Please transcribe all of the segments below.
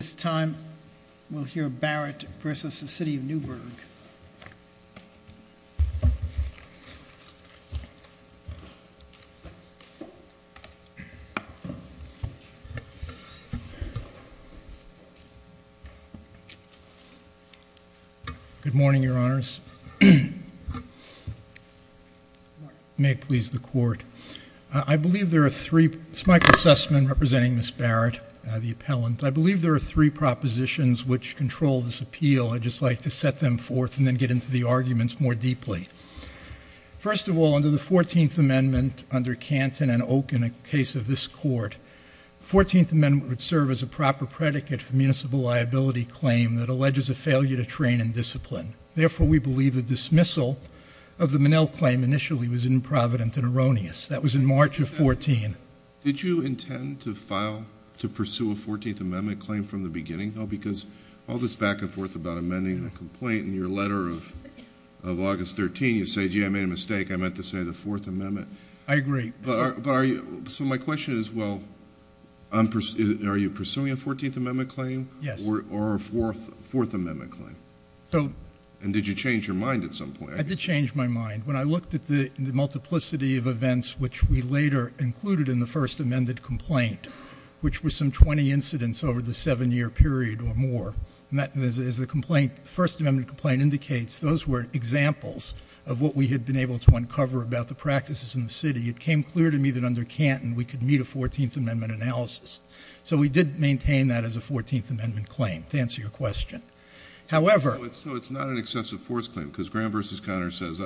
At this time, we'll hear Barrett v. City of Newburgh. Good morning, Your Honors. I believe there are three propositions which control this appeal. I'd just like to set them forth and then get into the arguments more deeply. First of all, under the 14th Amendment, under Canton and Oak in the case of this Court, the 14th Amendment would serve as a proper predicate for municipal liability claim that alleges a failure to train and discipline. Therefore, we believe the dismissal of the Minnell claim initially was improvident and erroneous. That was in March of 14. Did you intend to pursue a 14th Amendment claim from the beginning? No, because all this back and forth about amending a complaint in your letter of August 13, you say, gee, I made a mistake. I meant to say the 4th Amendment. I agree. So my question is, well, are you pursuing a 14th Amendment claim or a 4th Amendment claim? And did you change your mind at some point? I did change my mind. When I looked at the multiplicity of events which we later included in the first amended complaint, which was some 20 incidents over the seven-year period or more, as the first amendment complaint indicates, those were examples of what we had been able to uncover about the practices in the city. It came clear to me that under Canton we could meet a 14th Amendment analysis. So we did maintain that as a 14th Amendment claim, to answer your question. However. So it's not an excessive force claim, because Graham v. Conner says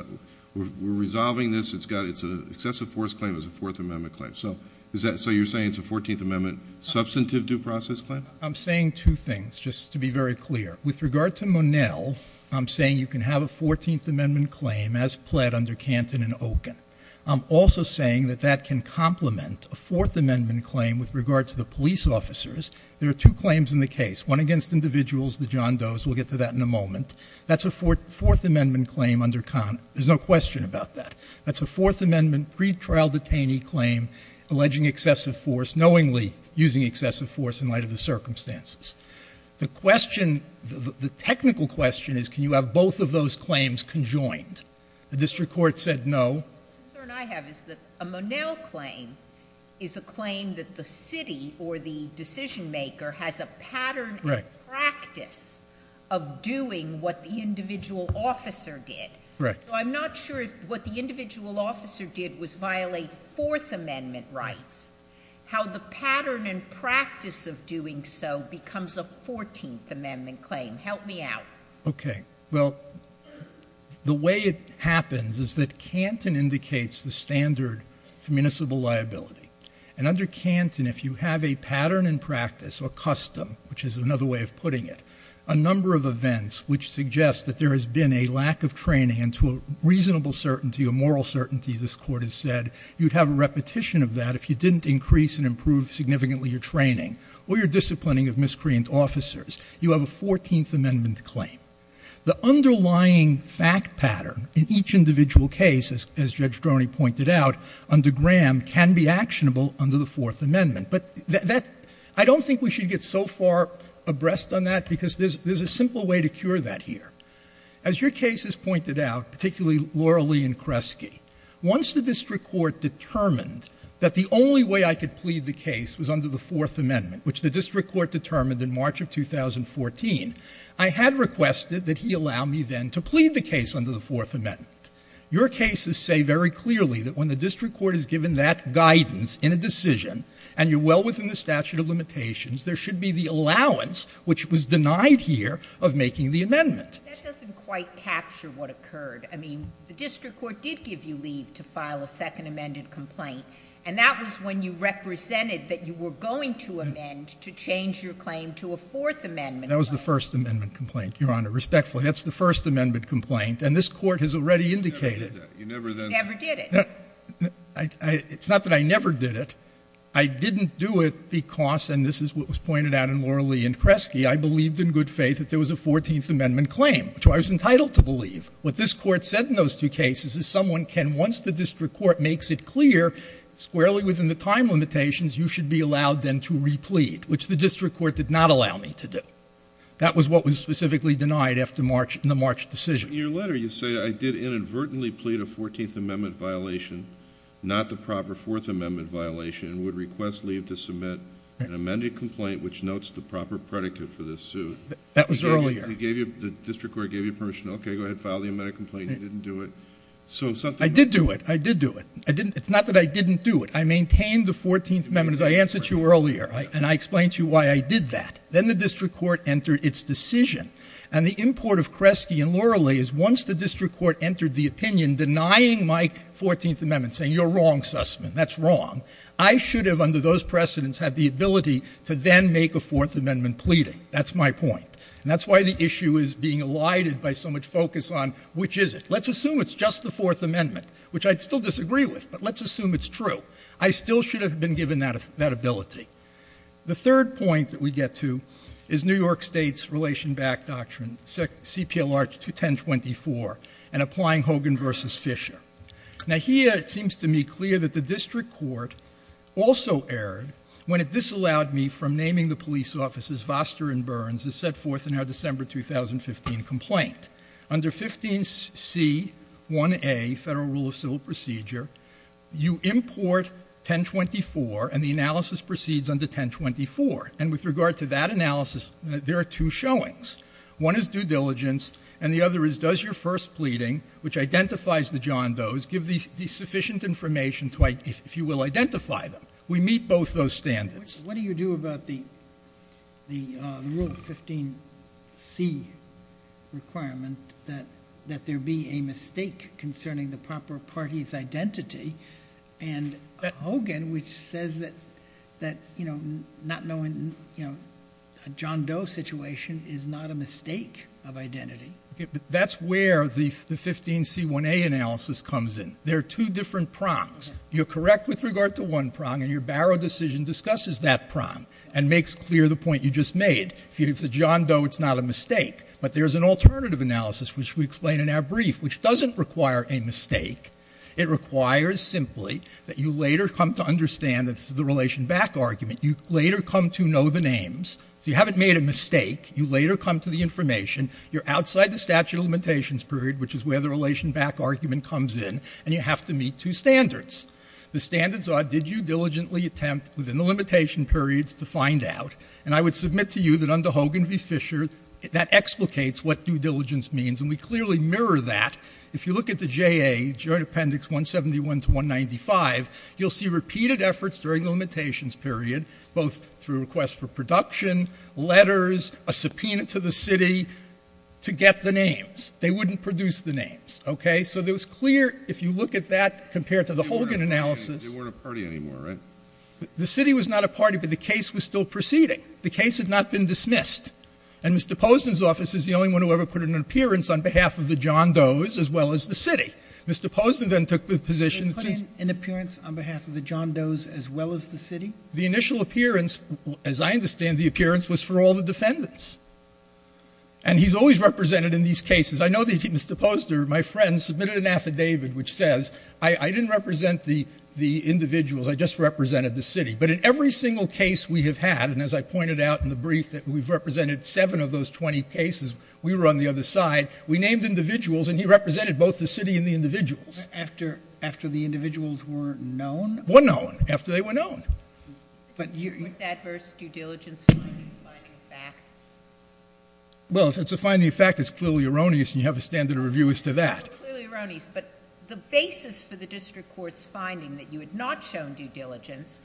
we're resolving this. It's an excessive force claim as a 4th Amendment claim. So you're saying it's a 14th Amendment substantive due process claim? I'm saying two things, just to be very clear. With regard to Monell, I'm saying you can have a 14th Amendment claim as pled under Canton and Oken. I'm also saying that that can complement a 4th Amendment claim with regard to the police officers. There are two claims in the case, one against individuals, the John Does. We'll get to that in a moment. That's a 4th Amendment claim under Conner. There's no question about that. That's a 4th Amendment pretrial detainee claim, alleging excessive force, knowingly using excessive force in light of the circumstances. The question, the technical question is can you have both of those claims conjoined? The district court said no. The concern I have is that a Monell claim is a claim that the city or the decision maker has a pattern and practice of doing what the individual officer did. Right. So I'm not sure if what the individual officer did was violate 4th Amendment rights. How the pattern and practice of doing so becomes a 14th Amendment claim. Help me out. Okay. Well, the way it happens is that Canton indicates the standard for municipal liability. And under Canton, if you have a pattern and practice or custom, which is another way of putting it, a number of events which suggest that there has been a lack of training and to a reasonable certainty, a moral certainty, this court has said, you'd have a repetition of that if you didn't increase and improve significantly your training or your disciplining of miscreant officers. You have a 14th Amendment claim. The underlying fact pattern in each individual case, as Judge Droney pointed out, under Graham can be actionable under the 4th Amendment. But that, I don't think we should get so far abreast on that because there's a simple way to cure that here. As your case has pointed out, particularly Laura Lee and Kresge, once the district court determined that the only way I could plead the case was under the 4th Amendment, which the district court determined in March of 2014, I had requested that he allow me then to plead the case under the 4th Amendment. Your cases say very clearly that when the district court has given that guidance in a decision, and you're well within the statute of limitations, there should be the allowance, which was denied here, of making the amendment. That doesn't quite capture what occurred. I mean, the district court did give you leave to file a second amended complaint, and that was when you represented that you were going to amend to change your claim to a 4th Amendment. That was the 1st Amendment complaint, Your Honor. Respectfully, that's the 1st Amendment complaint, and this Court has already indicated. You never did it. It's not that I never did it. I didn't do it because, and this is what was pointed out in Laura Lee and Kresge, I believed in good faith that there was a 14th Amendment claim, which I was entitled to believe. What this Court said in those two cases is someone can, once the district court makes it clear, squarely within the time limitations, you should be allowed then to replead, which the district court did not allow me to do. That was what was specifically denied after the March decision. In your letter, you say, I did inadvertently plead a 14th Amendment violation, not the proper 4th Amendment violation, and would request leave to submit an amended complaint, which notes the proper predicate for this suit. That was earlier. The district court gave you permission, okay, go ahead, file the amended complaint. You didn't do it. I did do it. I did do it. It's not that I didn't do it. I maintained the 14th Amendment, as I answered to you earlier, and I explained to you why I did that. Then the district court entered its decision. And the import of Kresge and Laura Lee is once the district court entered the opinion denying my 14th Amendment, saying you're wrong, Sussman, that's wrong, I should have, under those precedents, had the ability to then make a 4th Amendment pleading. That's my point. And that's why the issue is being elided by so much focus on which is it. Let's assume it's just the 4th Amendment, which I'd still disagree with, but let's assume it's true. I still should have been given that ability. The third point that we get to is New York State's relation-backed doctrine, CPLR 21024, and applying Hogan v. Fisher. Now here it seems to me clear that the district court also erred when it disallowed me from naming the police officers as Foster and Burns as set forth in our December 2015 complaint. Under 15C1A, Federal Rule of Civil Procedure, you import 1024, and the analysis proceeds under 1024. And with regard to that analysis, there are two showings. One is due diligence, and the other is does your first pleading, which identifies the John Does, give the sufficient information to, if you will, identify them? We meet both those standards. What do you do about the Rule of 15C requirement that there be a mistake concerning the proper party's identity? And Hogan, which says that not knowing a John Does situation is not a mistake of identity. That's where the 15C1A analysis comes in. There are two different prongs. You're correct with regard to one prong, and your Barrow decision discusses that prong and makes clear the point you just made. If it's a John Does, it's not a mistake. But there's an alternative analysis, which we explain in our brief, which doesn't require a mistake. It requires simply that you later come to understand that it's the relation back argument. You later come to know the names. So you haven't made a mistake. You later come to the information. You're outside the statute of limitations period, which is where the relation back argument comes in. And you have to meet two standards. The standards are, did you diligently attempt within the limitation periods to find out? And I would submit to you that under Hogan v. Fisher, that explicates what due diligence means, and we clearly mirror that. If you look at the JA, Joint Appendix 171 to 195, you'll see repeated efforts during the limitations period, both through requests for production, letters, a subpoena to the city, to get the names. They wouldn't produce the names. Okay? So it was clear, if you look at that compared to the Hogan analysis. They weren't a party anymore, right? The city was not a party, but the case was still proceeding. The case had not been dismissed. And Mr. Posner's office is the only one who ever put in an appearance on behalf of the John Does as well as the city. Mr. Posner then took the position. They put in an appearance on behalf of the John Does as well as the city? The initial appearance, as I understand the appearance, was for all the defendants. And he's always represented in these cases. I know that Mr. Posner, my friend, submitted an affidavit which says, I didn't represent the individuals. I just represented the city. But in every single case we have had, and as I pointed out in the brief that we've represented seven of those 20 cases, we were on the other side, we named individuals, and he represented both the city and the individuals. After the individuals were known? Were known. After they were known. Was adverse due diligence finding a fact? Well, if it's a finding fact, it's clearly erroneous, and you have a standard of review as to that. It's clearly erroneous, but the basis for the district court's finding that you had not shown due diligence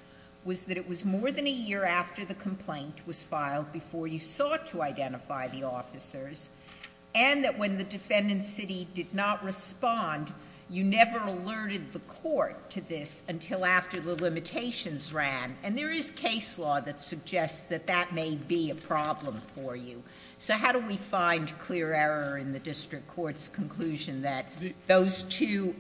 was that it was more than a year after the complaint was filed before you sought to identify the officers, and that when the defendant's city did not respond, you never alerted the court to this until after the limitations ran. And there is case law that suggests that that may be a problem for you. So how do we find clear error in the district court's conclusion that those two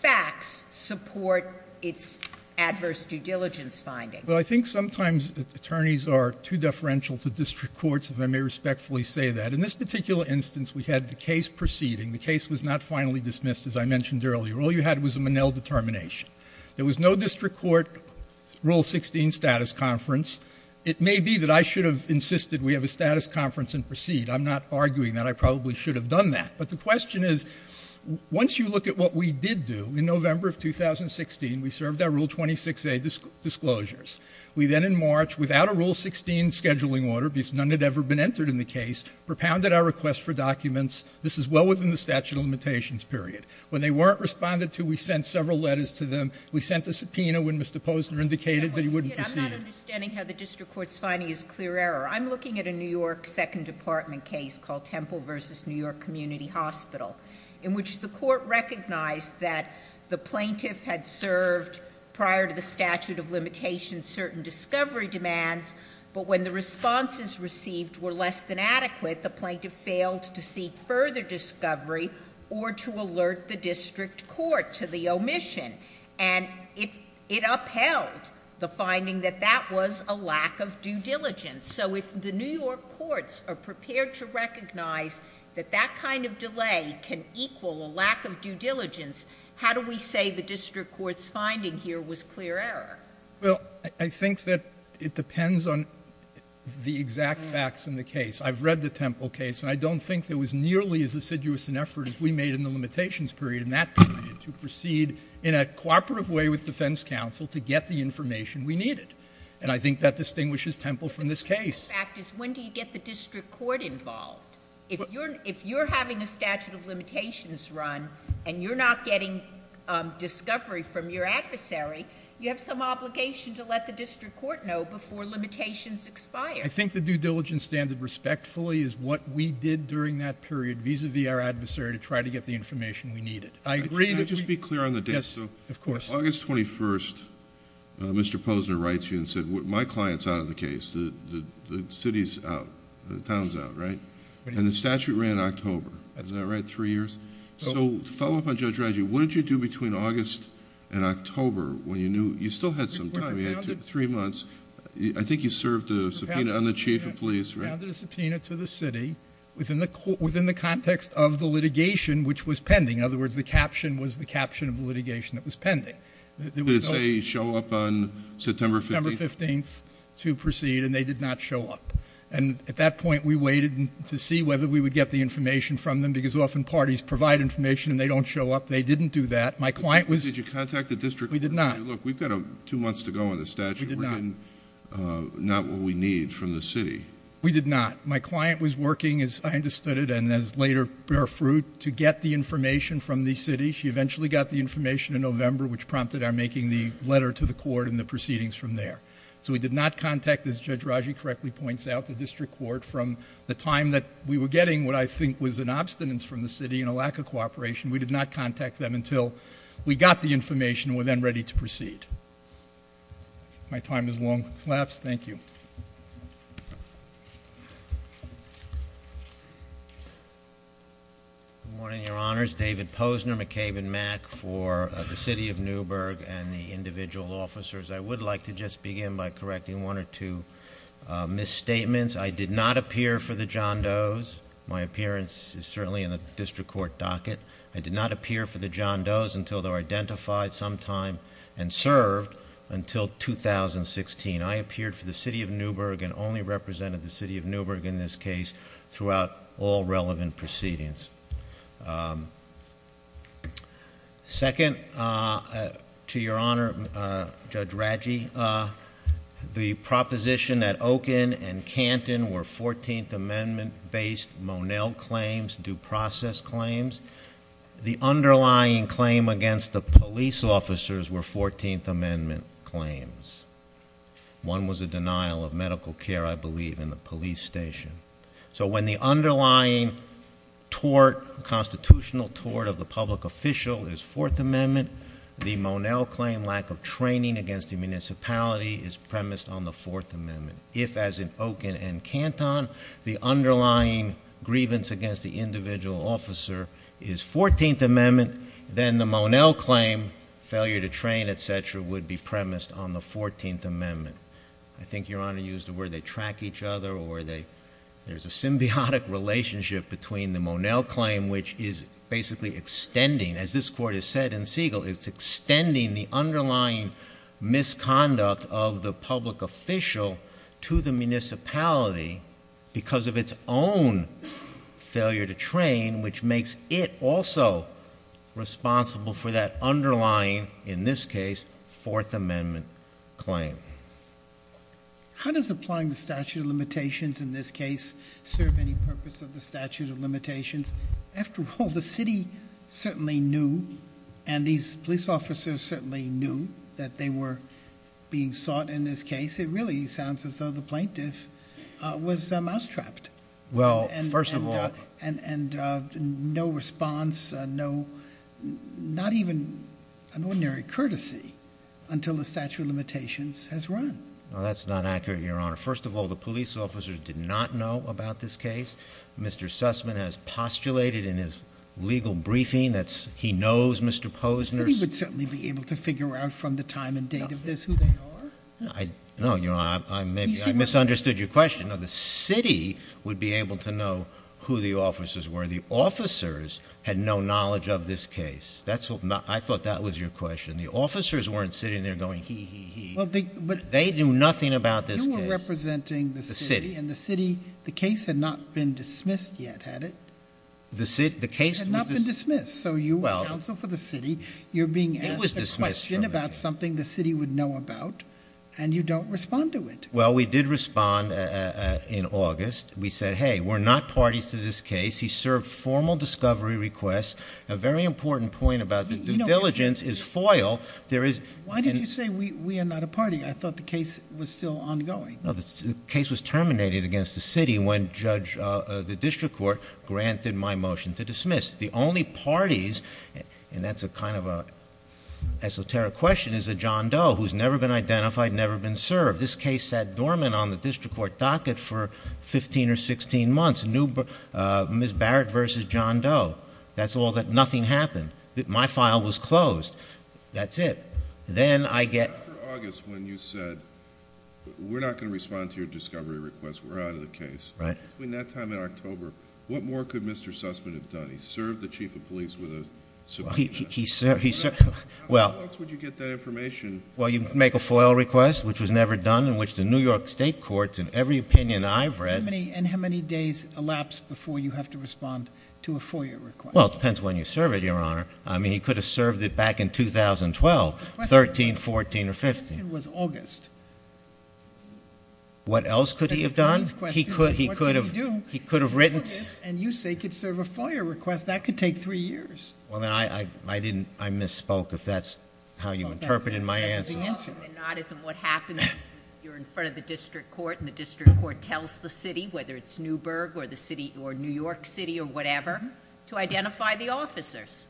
facts support its adverse due diligence finding? Well, I think sometimes attorneys are too deferential to district courts, if I may respectfully say that. In this particular instance, we had the case proceeding. The case was not finally dismissed, as I mentioned earlier. All you had was a Monell determination. There was no district court Rule 16 status conference. It may be that I should have insisted we have a status conference and proceed. I'm not arguing that. I probably should have done that. But the question is, once you look at what we did do, in November of 2016, we served our Rule 26a disclosures. We then in March, without a Rule 16 scheduling order, because none had ever been entered in the case, propounded our request for documents. This is well within the statute of limitations period. When they weren't responded to, we sent several letters to them. We sent a subpoena when Mr. Posner indicated that he wouldn't proceed. I'm not understanding how the district court's finding is clear error. I'm looking at a New York Second Department case called Temple versus New York Community Hospital. In which the court recognized that the plaintiff had served prior to the statute of limitations certain discovery demands. But when the responses received were less than adequate, the plaintiff failed to seek further discovery or to alert the district court to the omission. And it upheld the finding that that was a lack of due diligence. So if the New York courts are prepared to recognize that that kind of delay can equal a lack of due diligence, how do we say the district court's finding here was clear error? Well, I think that it depends on the exact facts in the case. I've read the Temple case. And I don't think it was nearly as assiduous an effort as we made in the limitations period in that period. To proceed in a cooperative way with defense counsel to get the information we needed. And I think that distinguishes Temple from this case. The fact is, when do you get the district court involved? If you're having a statute of limitations run and you're not getting discovery from your adversary, you have some obligation to let the district court know before limitations expire. I think the due diligence standard respectfully is what we did during that period, vis-à-vis our adversary, to try to get the information we needed. I agree that... Can I just be clear on the date? Yes, of course. August 21st, Mr. Posner writes you and said, My client's out of the case. The city's out. The town's out, right? And the statute ran October. Is that right? Three years? So, to follow up on Judge Radji, what did you do between August and October when you knew... You still had some time. You had three months. I think you served a subpoena on the chief of police, right? I handed a subpoena to the city within the context of the litigation, which was pending. In other words, the caption was the caption of the litigation that was pending. Did it say, show up on September 15th? September 15th to proceed, and they did not show up. And, at that point, we waited to see whether we would get the information from them, because often parties provide information and they don't show up. They didn't do that. My client was... Did you contact the district? We did not. Look, we've got two months to go on this statute. We did not. We're getting not what we need from the city. We did not. My client was working, as I understood it, and as later bear fruit, to get the information from the city. She eventually got the information in November, which prompted our making the letter to the court and the proceedings from there. So, we did not contact, as Judge Radji correctly points out, the district court from the time that we were getting what I think was an obstinance from the city and a lack of cooperation. We did not contact them until we got the information and were then ready to proceed. My time has long elapsed. Thank you. Good morning, Your Honors. David Posner, McCabe & Mack for the City of Newburgh and the individual officers. I would like to just begin by correcting one or two misstatements. I did not appear for the John Does. My appearance is certainly in the district court docket. I did not appear for the John Does until they were identified sometime and served until 2016. I appeared for the City of Newburgh and only represented the City of Newburgh in this case throughout all relevant proceedings. Second, to Your Honor, Judge Radji, the proposition that Oaken and Canton were 14th Amendment-based Monell claims, due process claims, the underlying claim against the police officers were 14th Amendment claims. One was a denial of medical care, I believe, in the police station. So, when the underlying tort, constitutional tort of the public official is Fourth Amendment, the Monell claim, lack of training against the municipality, is premised on the Fourth Amendment. If, as in Oaken and Canton, the underlying grievance against the individual officer is 14th Amendment, then the Monell claim, failure to train, etc., would be premised on the 14th Amendment. I think Your Honor used the word they track each other or there's a symbiotic relationship between the Monell claim, which is basically extending, as this court has said in Siegel, it's extending the underlying misconduct of the public official to the municipality because of its own failure to train, which makes it also responsible for that underlying, in this case, Fourth Amendment claim. How does applying the statute of limitations in this case serve any purpose of the statute of limitations? After all, the city certainly knew and these police officers certainly knew that they were being sought in this case. It really sounds as though the plaintiff was mousetrapped. And no response, not even an ordinary courtesy until the statute of limitations has run. That's not accurate, Your Honor. First of all, the police officers did not know about this case. Mr. Sussman has postulated in his legal briefing that he knows Mr. Posner. The city would certainly be able to figure out from the time and date of this who they are. No, Your Honor, I misunderstood your question. No, the city would be able to know who the officers were. The officers had no knowledge of this case. I thought that was your question. The officers weren't sitting there going, he, he, he. They knew nothing about this case. You were representing the city, and the city, the case had not been dismissed yet, had it? The case was dismissed. So you were counsel for the city. You're being asked a question about something the city would know about, and you don't respond to it. Well, we did respond in August. We said, hey, we're not parties to this case. He served formal discovery requests. A very important point about the diligence is foil. Why did you say we are not a party? I thought the case was still ongoing. No, the case was terminated against the city when the district court granted my motion to dismiss. The only parties, and that's a kind of an esoteric question, is a John Doe who's never been identified, never been served. This case sat dormant on the district court docket for 15 or 16 months. Ms. Barrett versus John Doe. That's all that, nothing happened. My file was closed. That's it. Then I get. After August when you said, we're not going to respond to your discovery requests, we're out of the case. Right. Between that time in October, what more could Mr. Sussman have done? He served the chief of police with a subpoena. He served, he served, well. How else would you get that information? Well, you make a foil request, which was never done, in which the New York state courts, in every opinion I've read. And how many days elapsed before you have to respond to a FOIA request? Well, it depends when you serve it, Your Honor. I mean, he could have served it back in 2012, 13, 14, or 15. The question was August. What else could he have done? He could have written. And you say he could serve a FOIA request. That could take three years. Well, then I didn't, I misspoke, if that's how you interpreted my answer. That's the answer. If not, isn't what happens is you're in front of the district court, and the district court tells the city, whether it's Newburgh or the city, or New York City or whatever, to identify the officers.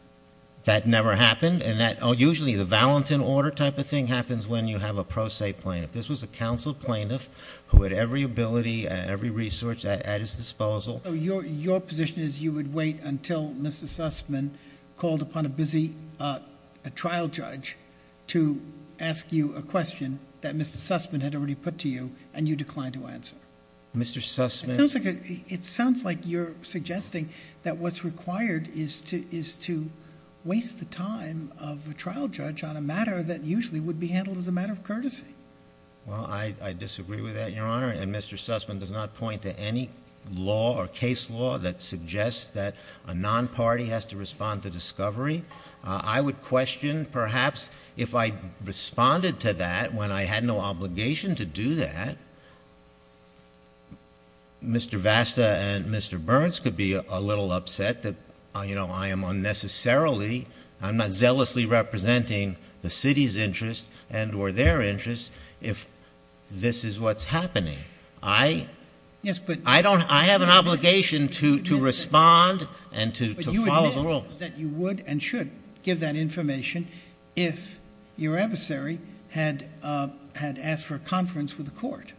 That never happened. And that, usually the Valentin order type of thing happens when you have a pro se plaintiff. This was a counsel plaintiff who had every ability and every resource at his disposal. So your position is you would wait until Mr. Sussman called upon a busy trial judge to ask you a question that Mr. Sussman had already put to you, and you declined to answer. Mr. Sussman. It sounds like you're suggesting that what's required is to waste the time of a trial judge on a matter that usually would be handled as a matter of courtesy. Well, I disagree with that, Your Honor. And Mr. Sussman does not point to any law or case law that suggests that a non-party has to respond to discovery. I would question, perhaps, if I responded to that when I had no obligation to do that. Mr. Vasta and Mr. Burns could be a little upset that I am unnecessarily, I'm not zealously representing the city's interest and or their interest if this is what's happening. I have an obligation to respond and to follow the rules. But you admit that you would and should give that information if your adversary had asked for a conference with the court.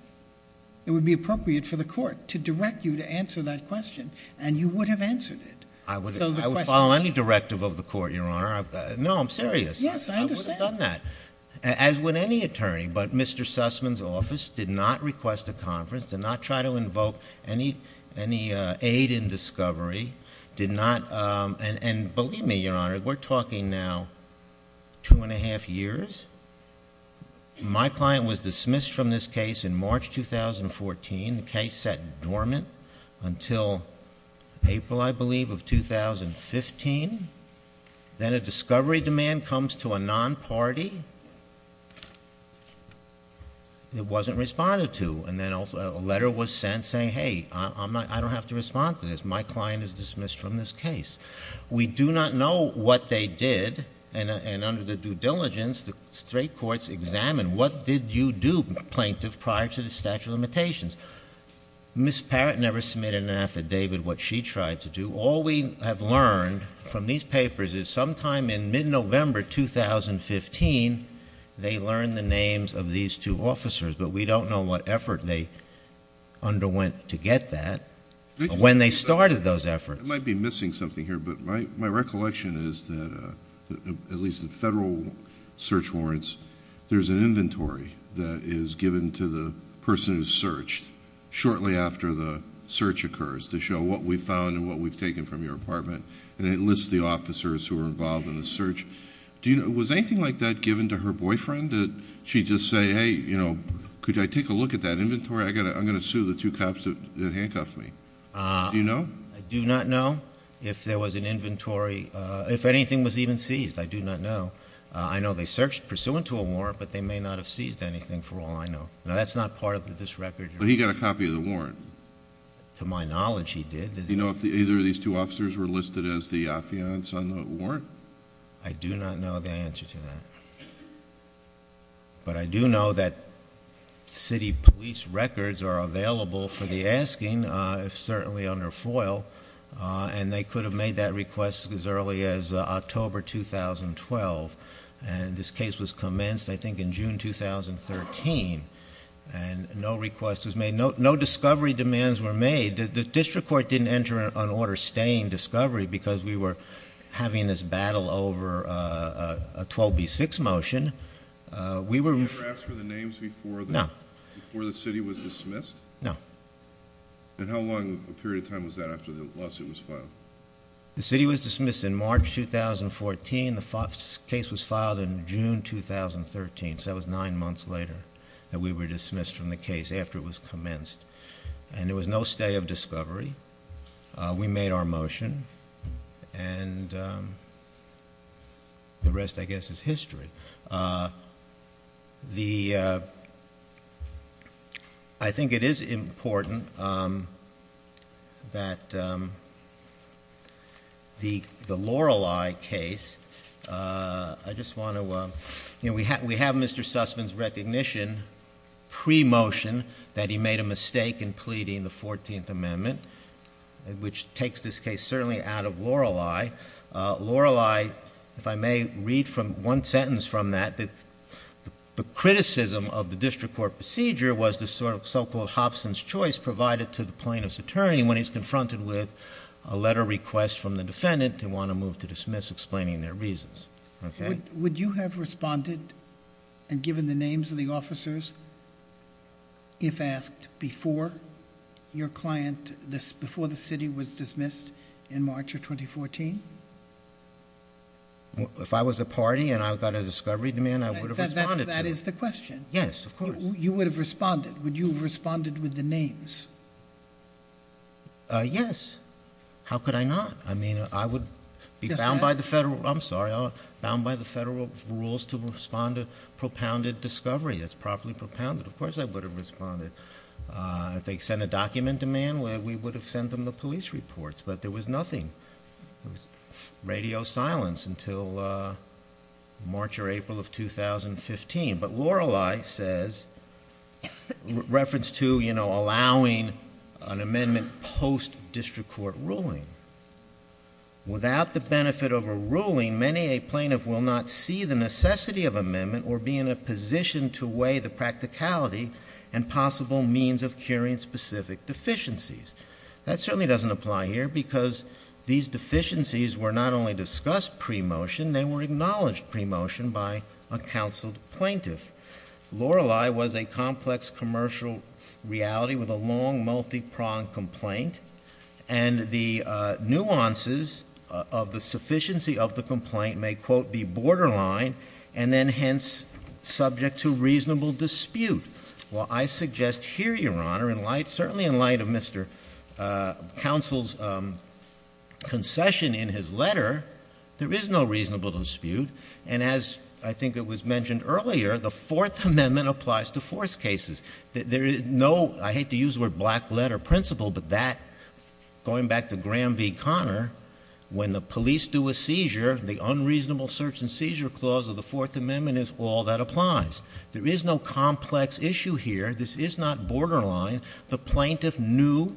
It would be appropriate for the court to direct you to answer that question, and you would have answered it. I would follow any directive of the court, Your Honor. No, I'm serious. Yes, I understand. I would have done that, as would any attorney. But Mr. Sussman's office did not request a conference, did not try to invoke any aid in discovery, did not... And believe me, Your Honor, we're talking now two and a half years. My client was dismissed from this case in March 2014. The case sat dormant until April, I believe, of 2015. Then a discovery demand comes to a non-party it wasn't responded to. And then a letter was sent saying, hey, I don't have to respond to this. My client is dismissed from this case. We do not know what they did. And under the due diligence, the straight courts examined what did you do, plaintiff, prior to the statute of limitations. Ms. Parrott never submitted an affidavit what she tried to do. All we have learned from these papers is sometime in mid-November 2015, they learned the names of these two officers. But we don't know what effort they underwent to get that. When they started those efforts... I might be missing something here, but my recollection is that, at least in federal search warrants, there's an inventory that is given to the person who searched shortly after the search occurs to show what we found and what we've taken from your apartment. And it lists the officers who were involved in the search. Was anything like that given to her boyfriend? Did she just say, hey, could I take a look at that inventory? I'm going to sue the two cops that handcuffed me. Do you know? I do not know if there was an inventory... if anything was even seized. I do not know. I know they searched pursuant to a warrant, but they may not have seized anything, for all I know. Now, that's not part of this record. But he got a copy of the warrant. To my knowledge, he did. Do you know if either of these two officers were listed as the affiants on the warrant? I do not know the answer to that. But I do know that city police records are available for the asking, certainly under FOIL. And they could have made that request as early as October 2012. And this case was commenced, I think, in June 2013. And no request was made. No discovery demands were made. The district court didn't enter an order staying discovery because we were having this battle over a 12B6 motion. We were... You never asked for the names before the city was dismissed? No. And how long a period of time was that after the lawsuit was filed? The city was dismissed in March 2014. The case was filed in June 2013. So that was nine months later that we were dismissed from the case, after it was commenced. And there was no stay of discovery. We made our motion. And the rest, I guess, is history. The... I think it is important that the Lorelei case... I just want to... We have Mr. Sussman's recognition, pre-motion, that he made a mistake in pleading the 14th Amendment, which takes this case, certainly, out of Lorelei. Lorelei, if I may read one sentence from that, the criticism of the district court procedure was the so-called Hobson's choice provided to the plaintiff's attorney when he's confronted with a letter request from the defendant, they want to move to dismiss, explaining their reasons. Would you have responded and given the names of the officers, if asked, before your client... before the city was dismissed in March of 2014? If I was the party and I got a discovery demand, I would have responded to them. That is the question. Yes, of course. You would have responded. Would you have responded with the names? Yes. How could I not? I mean, I would be bound by the federal... I'm sorry. Bound by the federal rules to respond to propounded discovery that's properly propounded. Of course, I would have responded. If they sent a document demand, we would have sent them the police reports. But there was nothing. There was radio silence until March or April of 2015. But Lorelei says, reference to, you know, allowing an amendment post-district court ruling. Without the benefit of a ruling, many a plaintiff will not see the necessity of amendment or be in a position to weigh the practicality and possible means of curing specific deficiencies. That certainly doesn't apply here because these deficiencies were not only discussed pre-motion, they were acknowledged pre-motion by a counsel plaintiff. Lorelei was a complex commercial reality with a long, multi-pronged complaint. And the nuances of the sufficiency of the complaint may, quote, be borderline, and then hence subject to reasonable dispute. Well, I suggest here, Your Honor, certainly in light of Mr. Counsel's concession in his letter, there is no reasonable dispute. And as I think it was mentioned earlier, the Fourth Amendment applies to force cases. There is no, I hate to use the word black letter principle, but that, going back to Graham v. Conner, when the police do a seizure, the unreasonable search and seizure clause of the Fourth Amendment is all that applies. There is no complex issue here. This is not borderline. The plaintiff knew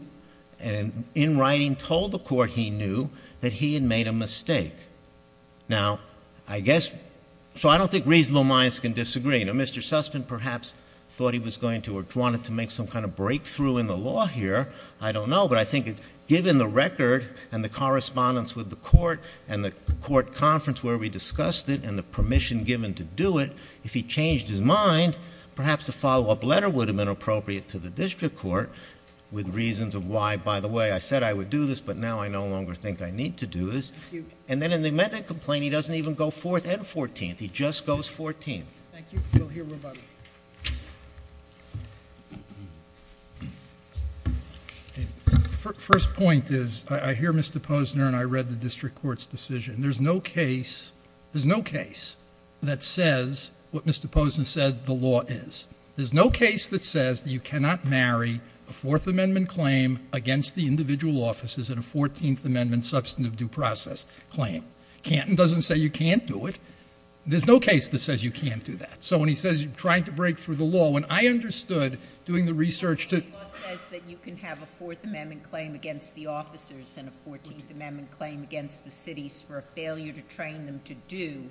and in writing told the court he knew that he had made a mistake. Now, I guess, so I don't think reasonable minds can disagree. Now, Mr. Sussman perhaps thought he was going to or wanted to make some kind of breakthrough in the law here. I don't know, but I think given the record and the correspondence with the court and the court conference where we discussed it and the permission given to do it, if he changed his mind, perhaps a follow-up letter would have been appropriate to the district court, with reasons of why, by the way, I said I would do this, but now I no longer think I need to do this. And then in the amendment complaint, he doesn't even go fourth and fourteenth. He just goes fourteenth. Thank you. We'll hear rebuttal. First point is, I hear Mr. Posner and I read the district court's decision. And there's no case, there's no case that says what Mr. Posner said the law is. There's no case that says you cannot marry a Fourth Amendment claim against the individual officers in a Fourteenth Amendment substantive due process claim. Canton doesn't say you can't do it. There's no case that says you can't do that. So when he says you're trying to break through the law, when I understood doing the research to The law says that you can have a Fourth Amendment claim against the officers and a Fourteenth Amendment claim against the cities for a failure to train them to do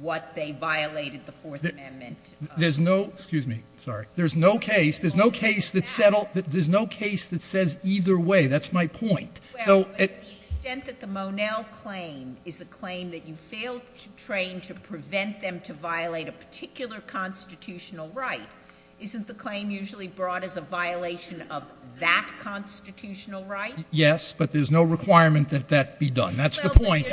what they violated the Fourth Amendment. There's no, excuse me, sorry. There's no case, there's no case that settled, there's no case that says either way. That's my point. The extent that the Monell claim is a claim that you failed to train to prevent them to violate a particular constitutional right, isn't the claim usually brought as a violation of that constitutional right? Yes, but there's no requirement that that be done. That's the point.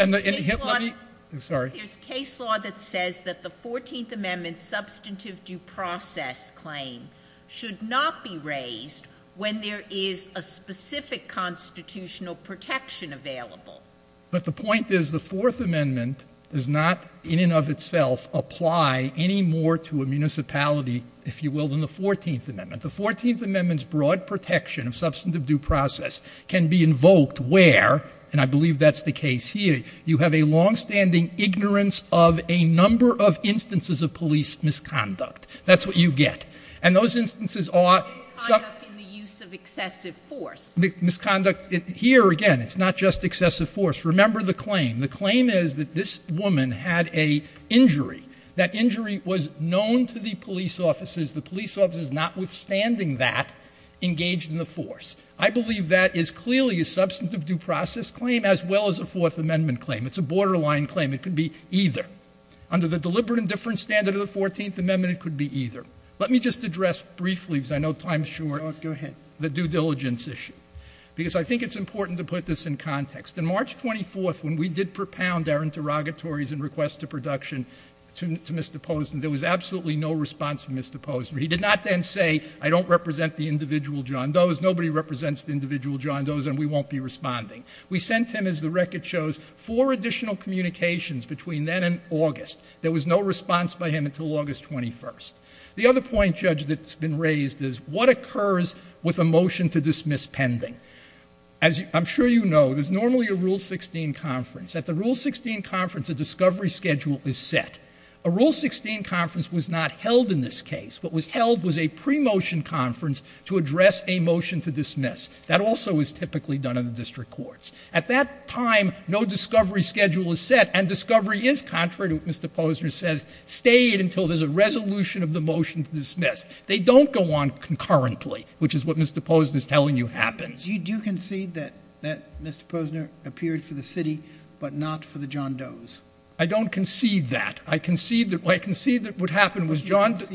There's case law that says that the Fourteenth Amendment substantive due process claim should not be raised when there is a specific constitutional protection available. But the point is the Fourth Amendment does not in and of itself apply any more to a municipality, if you will, than the Fourteenth Amendment. The Fourteenth Amendment's broad protection of substantive due process can be invoked where, and I believe that's the case here, you have a longstanding ignorance of a number of instances of police misconduct. That's what you get. And those instances are... Misconduct in the use of excessive force. Misconduct. Here, again, it's not just excessive force. Remember the claim. The claim is that this woman had an injury. That injury was known to the police officers. The police officers, notwithstanding that, engaged in the force. I believe that is clearly a substantive due process claim as well as a Fourth Amendment claim. It's a borderline claim. It could be either. Under the deliberate indifference standard of the Fourteenth Amendment, it could be either. Let me just address briefly, because I know time is short, the due diligence issue. Because I think it's important to put this in context. On March 24th, when we did propound our interrogatories and requests to production to Mr. Posner, there was absolutely no response from Mr. Posner. He did not then say, I don't represent the individual John Doe's, nobody represents the individual John Doe's, and we won't be responding. We sent him, as the record shows, four additional communications between then and August. There was no response by him until August 21st. The other point, Judge, that's been raised is what occurs with a motion to dismiss pending? As I'm sure you know, there's normally a Rule 16 conference. At the Rule 16 conference, a discovery schedule is set. A Rule 16 conference was not held in this case. What was held was a pre-motion conference to address a motion to dismiss. That also is typically done in the district courts. At that time, no discovery schedule is set, and discovery is contrary to what Mr. Posner says, stayed until there's a resolution of the motion to dismiss. They don't go on concurrently, which is what Mr. Posner is telling you happens. Do you concede that Mr. Posner appeared for the city, but not for the John Doe's? I don't concede that. I concede that what happened was John Doe's.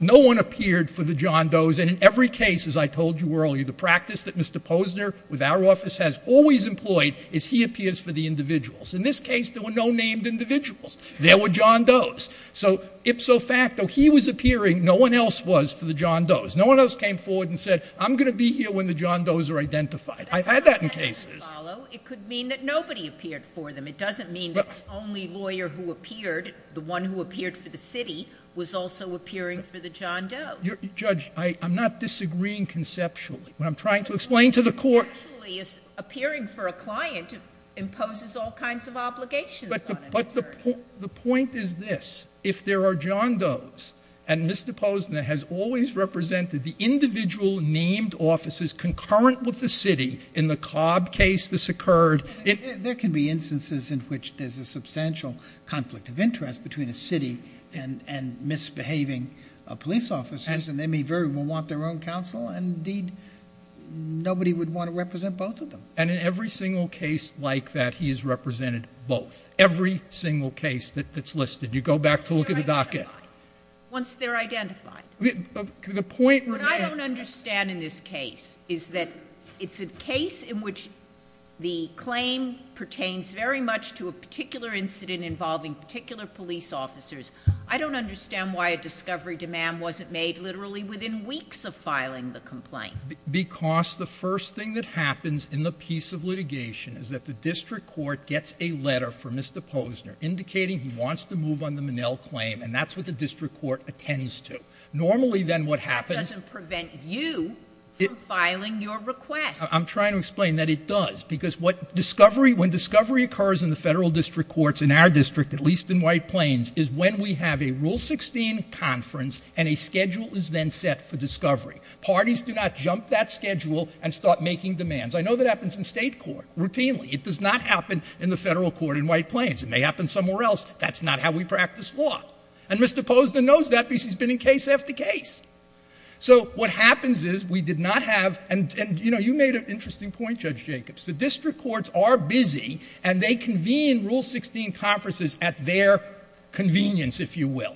No one appeared for the John Doe's, and in every case, as I told you earlier, the practice that Mr. Posner, with our office, has always employed is he appears for the individuals. In this case, there were no named individuals. There were John Doe's. So, ipso facto, he was appearing. No one else was for the John Doe's. No one else came forward and said, I'm going to be here when the John Doe's are identified. I've had that in cases. It could mean that nobody appeared for them. It doesn't mean that the only lawyer who appeared, the one who appeared for the city, was also appearing for the John Doe's. Judge, I'm not disagreeing conceptually. What I'm trying to explain to the court... Appearing for a client imposes all kinds of obligations on an attorney. But the point is this. If there are John Doe's, and Mr. Posner has always represented the individual named officers concurrent with the city, in the Cobb case this occurred... And misbehaving police officers. And they may very well want their own counsel. And indeed, nobody would want to represent both of them. And in every single case like that, he has represented both. Every single case that's listed. You go back to look at the docket. Once they're identified. The point... What I don't understand in this case is that it's a case in which the claim pertains very much to a particular incident involving particular police officers. I don't understand why a discovery demand wasn't made literally within weeks of filing the complaint. Because the first thing that happens in the piece of litigation is that the district court gets a letter from Mr. Posner indicating he wants to move on the Minnell claim. And that's what the district court attends to. Normally then what happens... That doesn't prevent you from filing your request. I'm trying to explain that it does. Because when discovery occurs in the federal district courts in our district, at least in White Plains, is when we have a Rule 16 conference and a schedule is then set for discovery. Parties do not jump that schedule and start making demands. I know that happens in state court routinely. It does not happen in the federal court in White Plains. It may happen somewhere else. That's not how we practice law. And Mr. Posner knows that because he's been in case after case. So what happens is we did not have... And, you know, you made an interesting point, Judge Jacobs. The district courts are busy and they convene Rule 16 conferences at their convenience, if you will.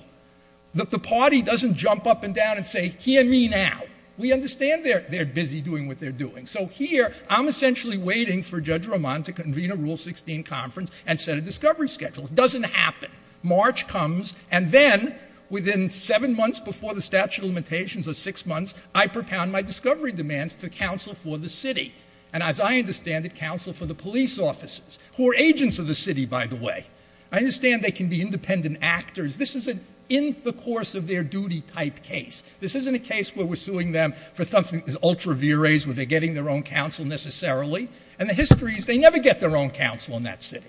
The party doesn't jump up and down and say, hear me now. We understand they're busy doing what they're doing. So here I'm essentially waiting for Judge Roman to convene a Rule 16 conference and set a discovery schedule. It doesn't happen. March comes, and then, within seven months before the statute of limitations or six months, I propound my discovery demands to counsel for the city. And as I understand it, counsel for the police officers, who are agents of the city, by the way. I understand they can be independent actors. This isn't in the course of their duty type case. This isn't a case where we're suing them for something that's ultra vires, where they're getting their own counsel necessarily. And the history is they never get their own counsel in that city.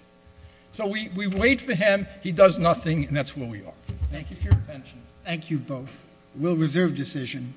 So we wait for him. He does nothing, and that's where we are. Thank you for your attention. Thank you both. We'll reserve decision.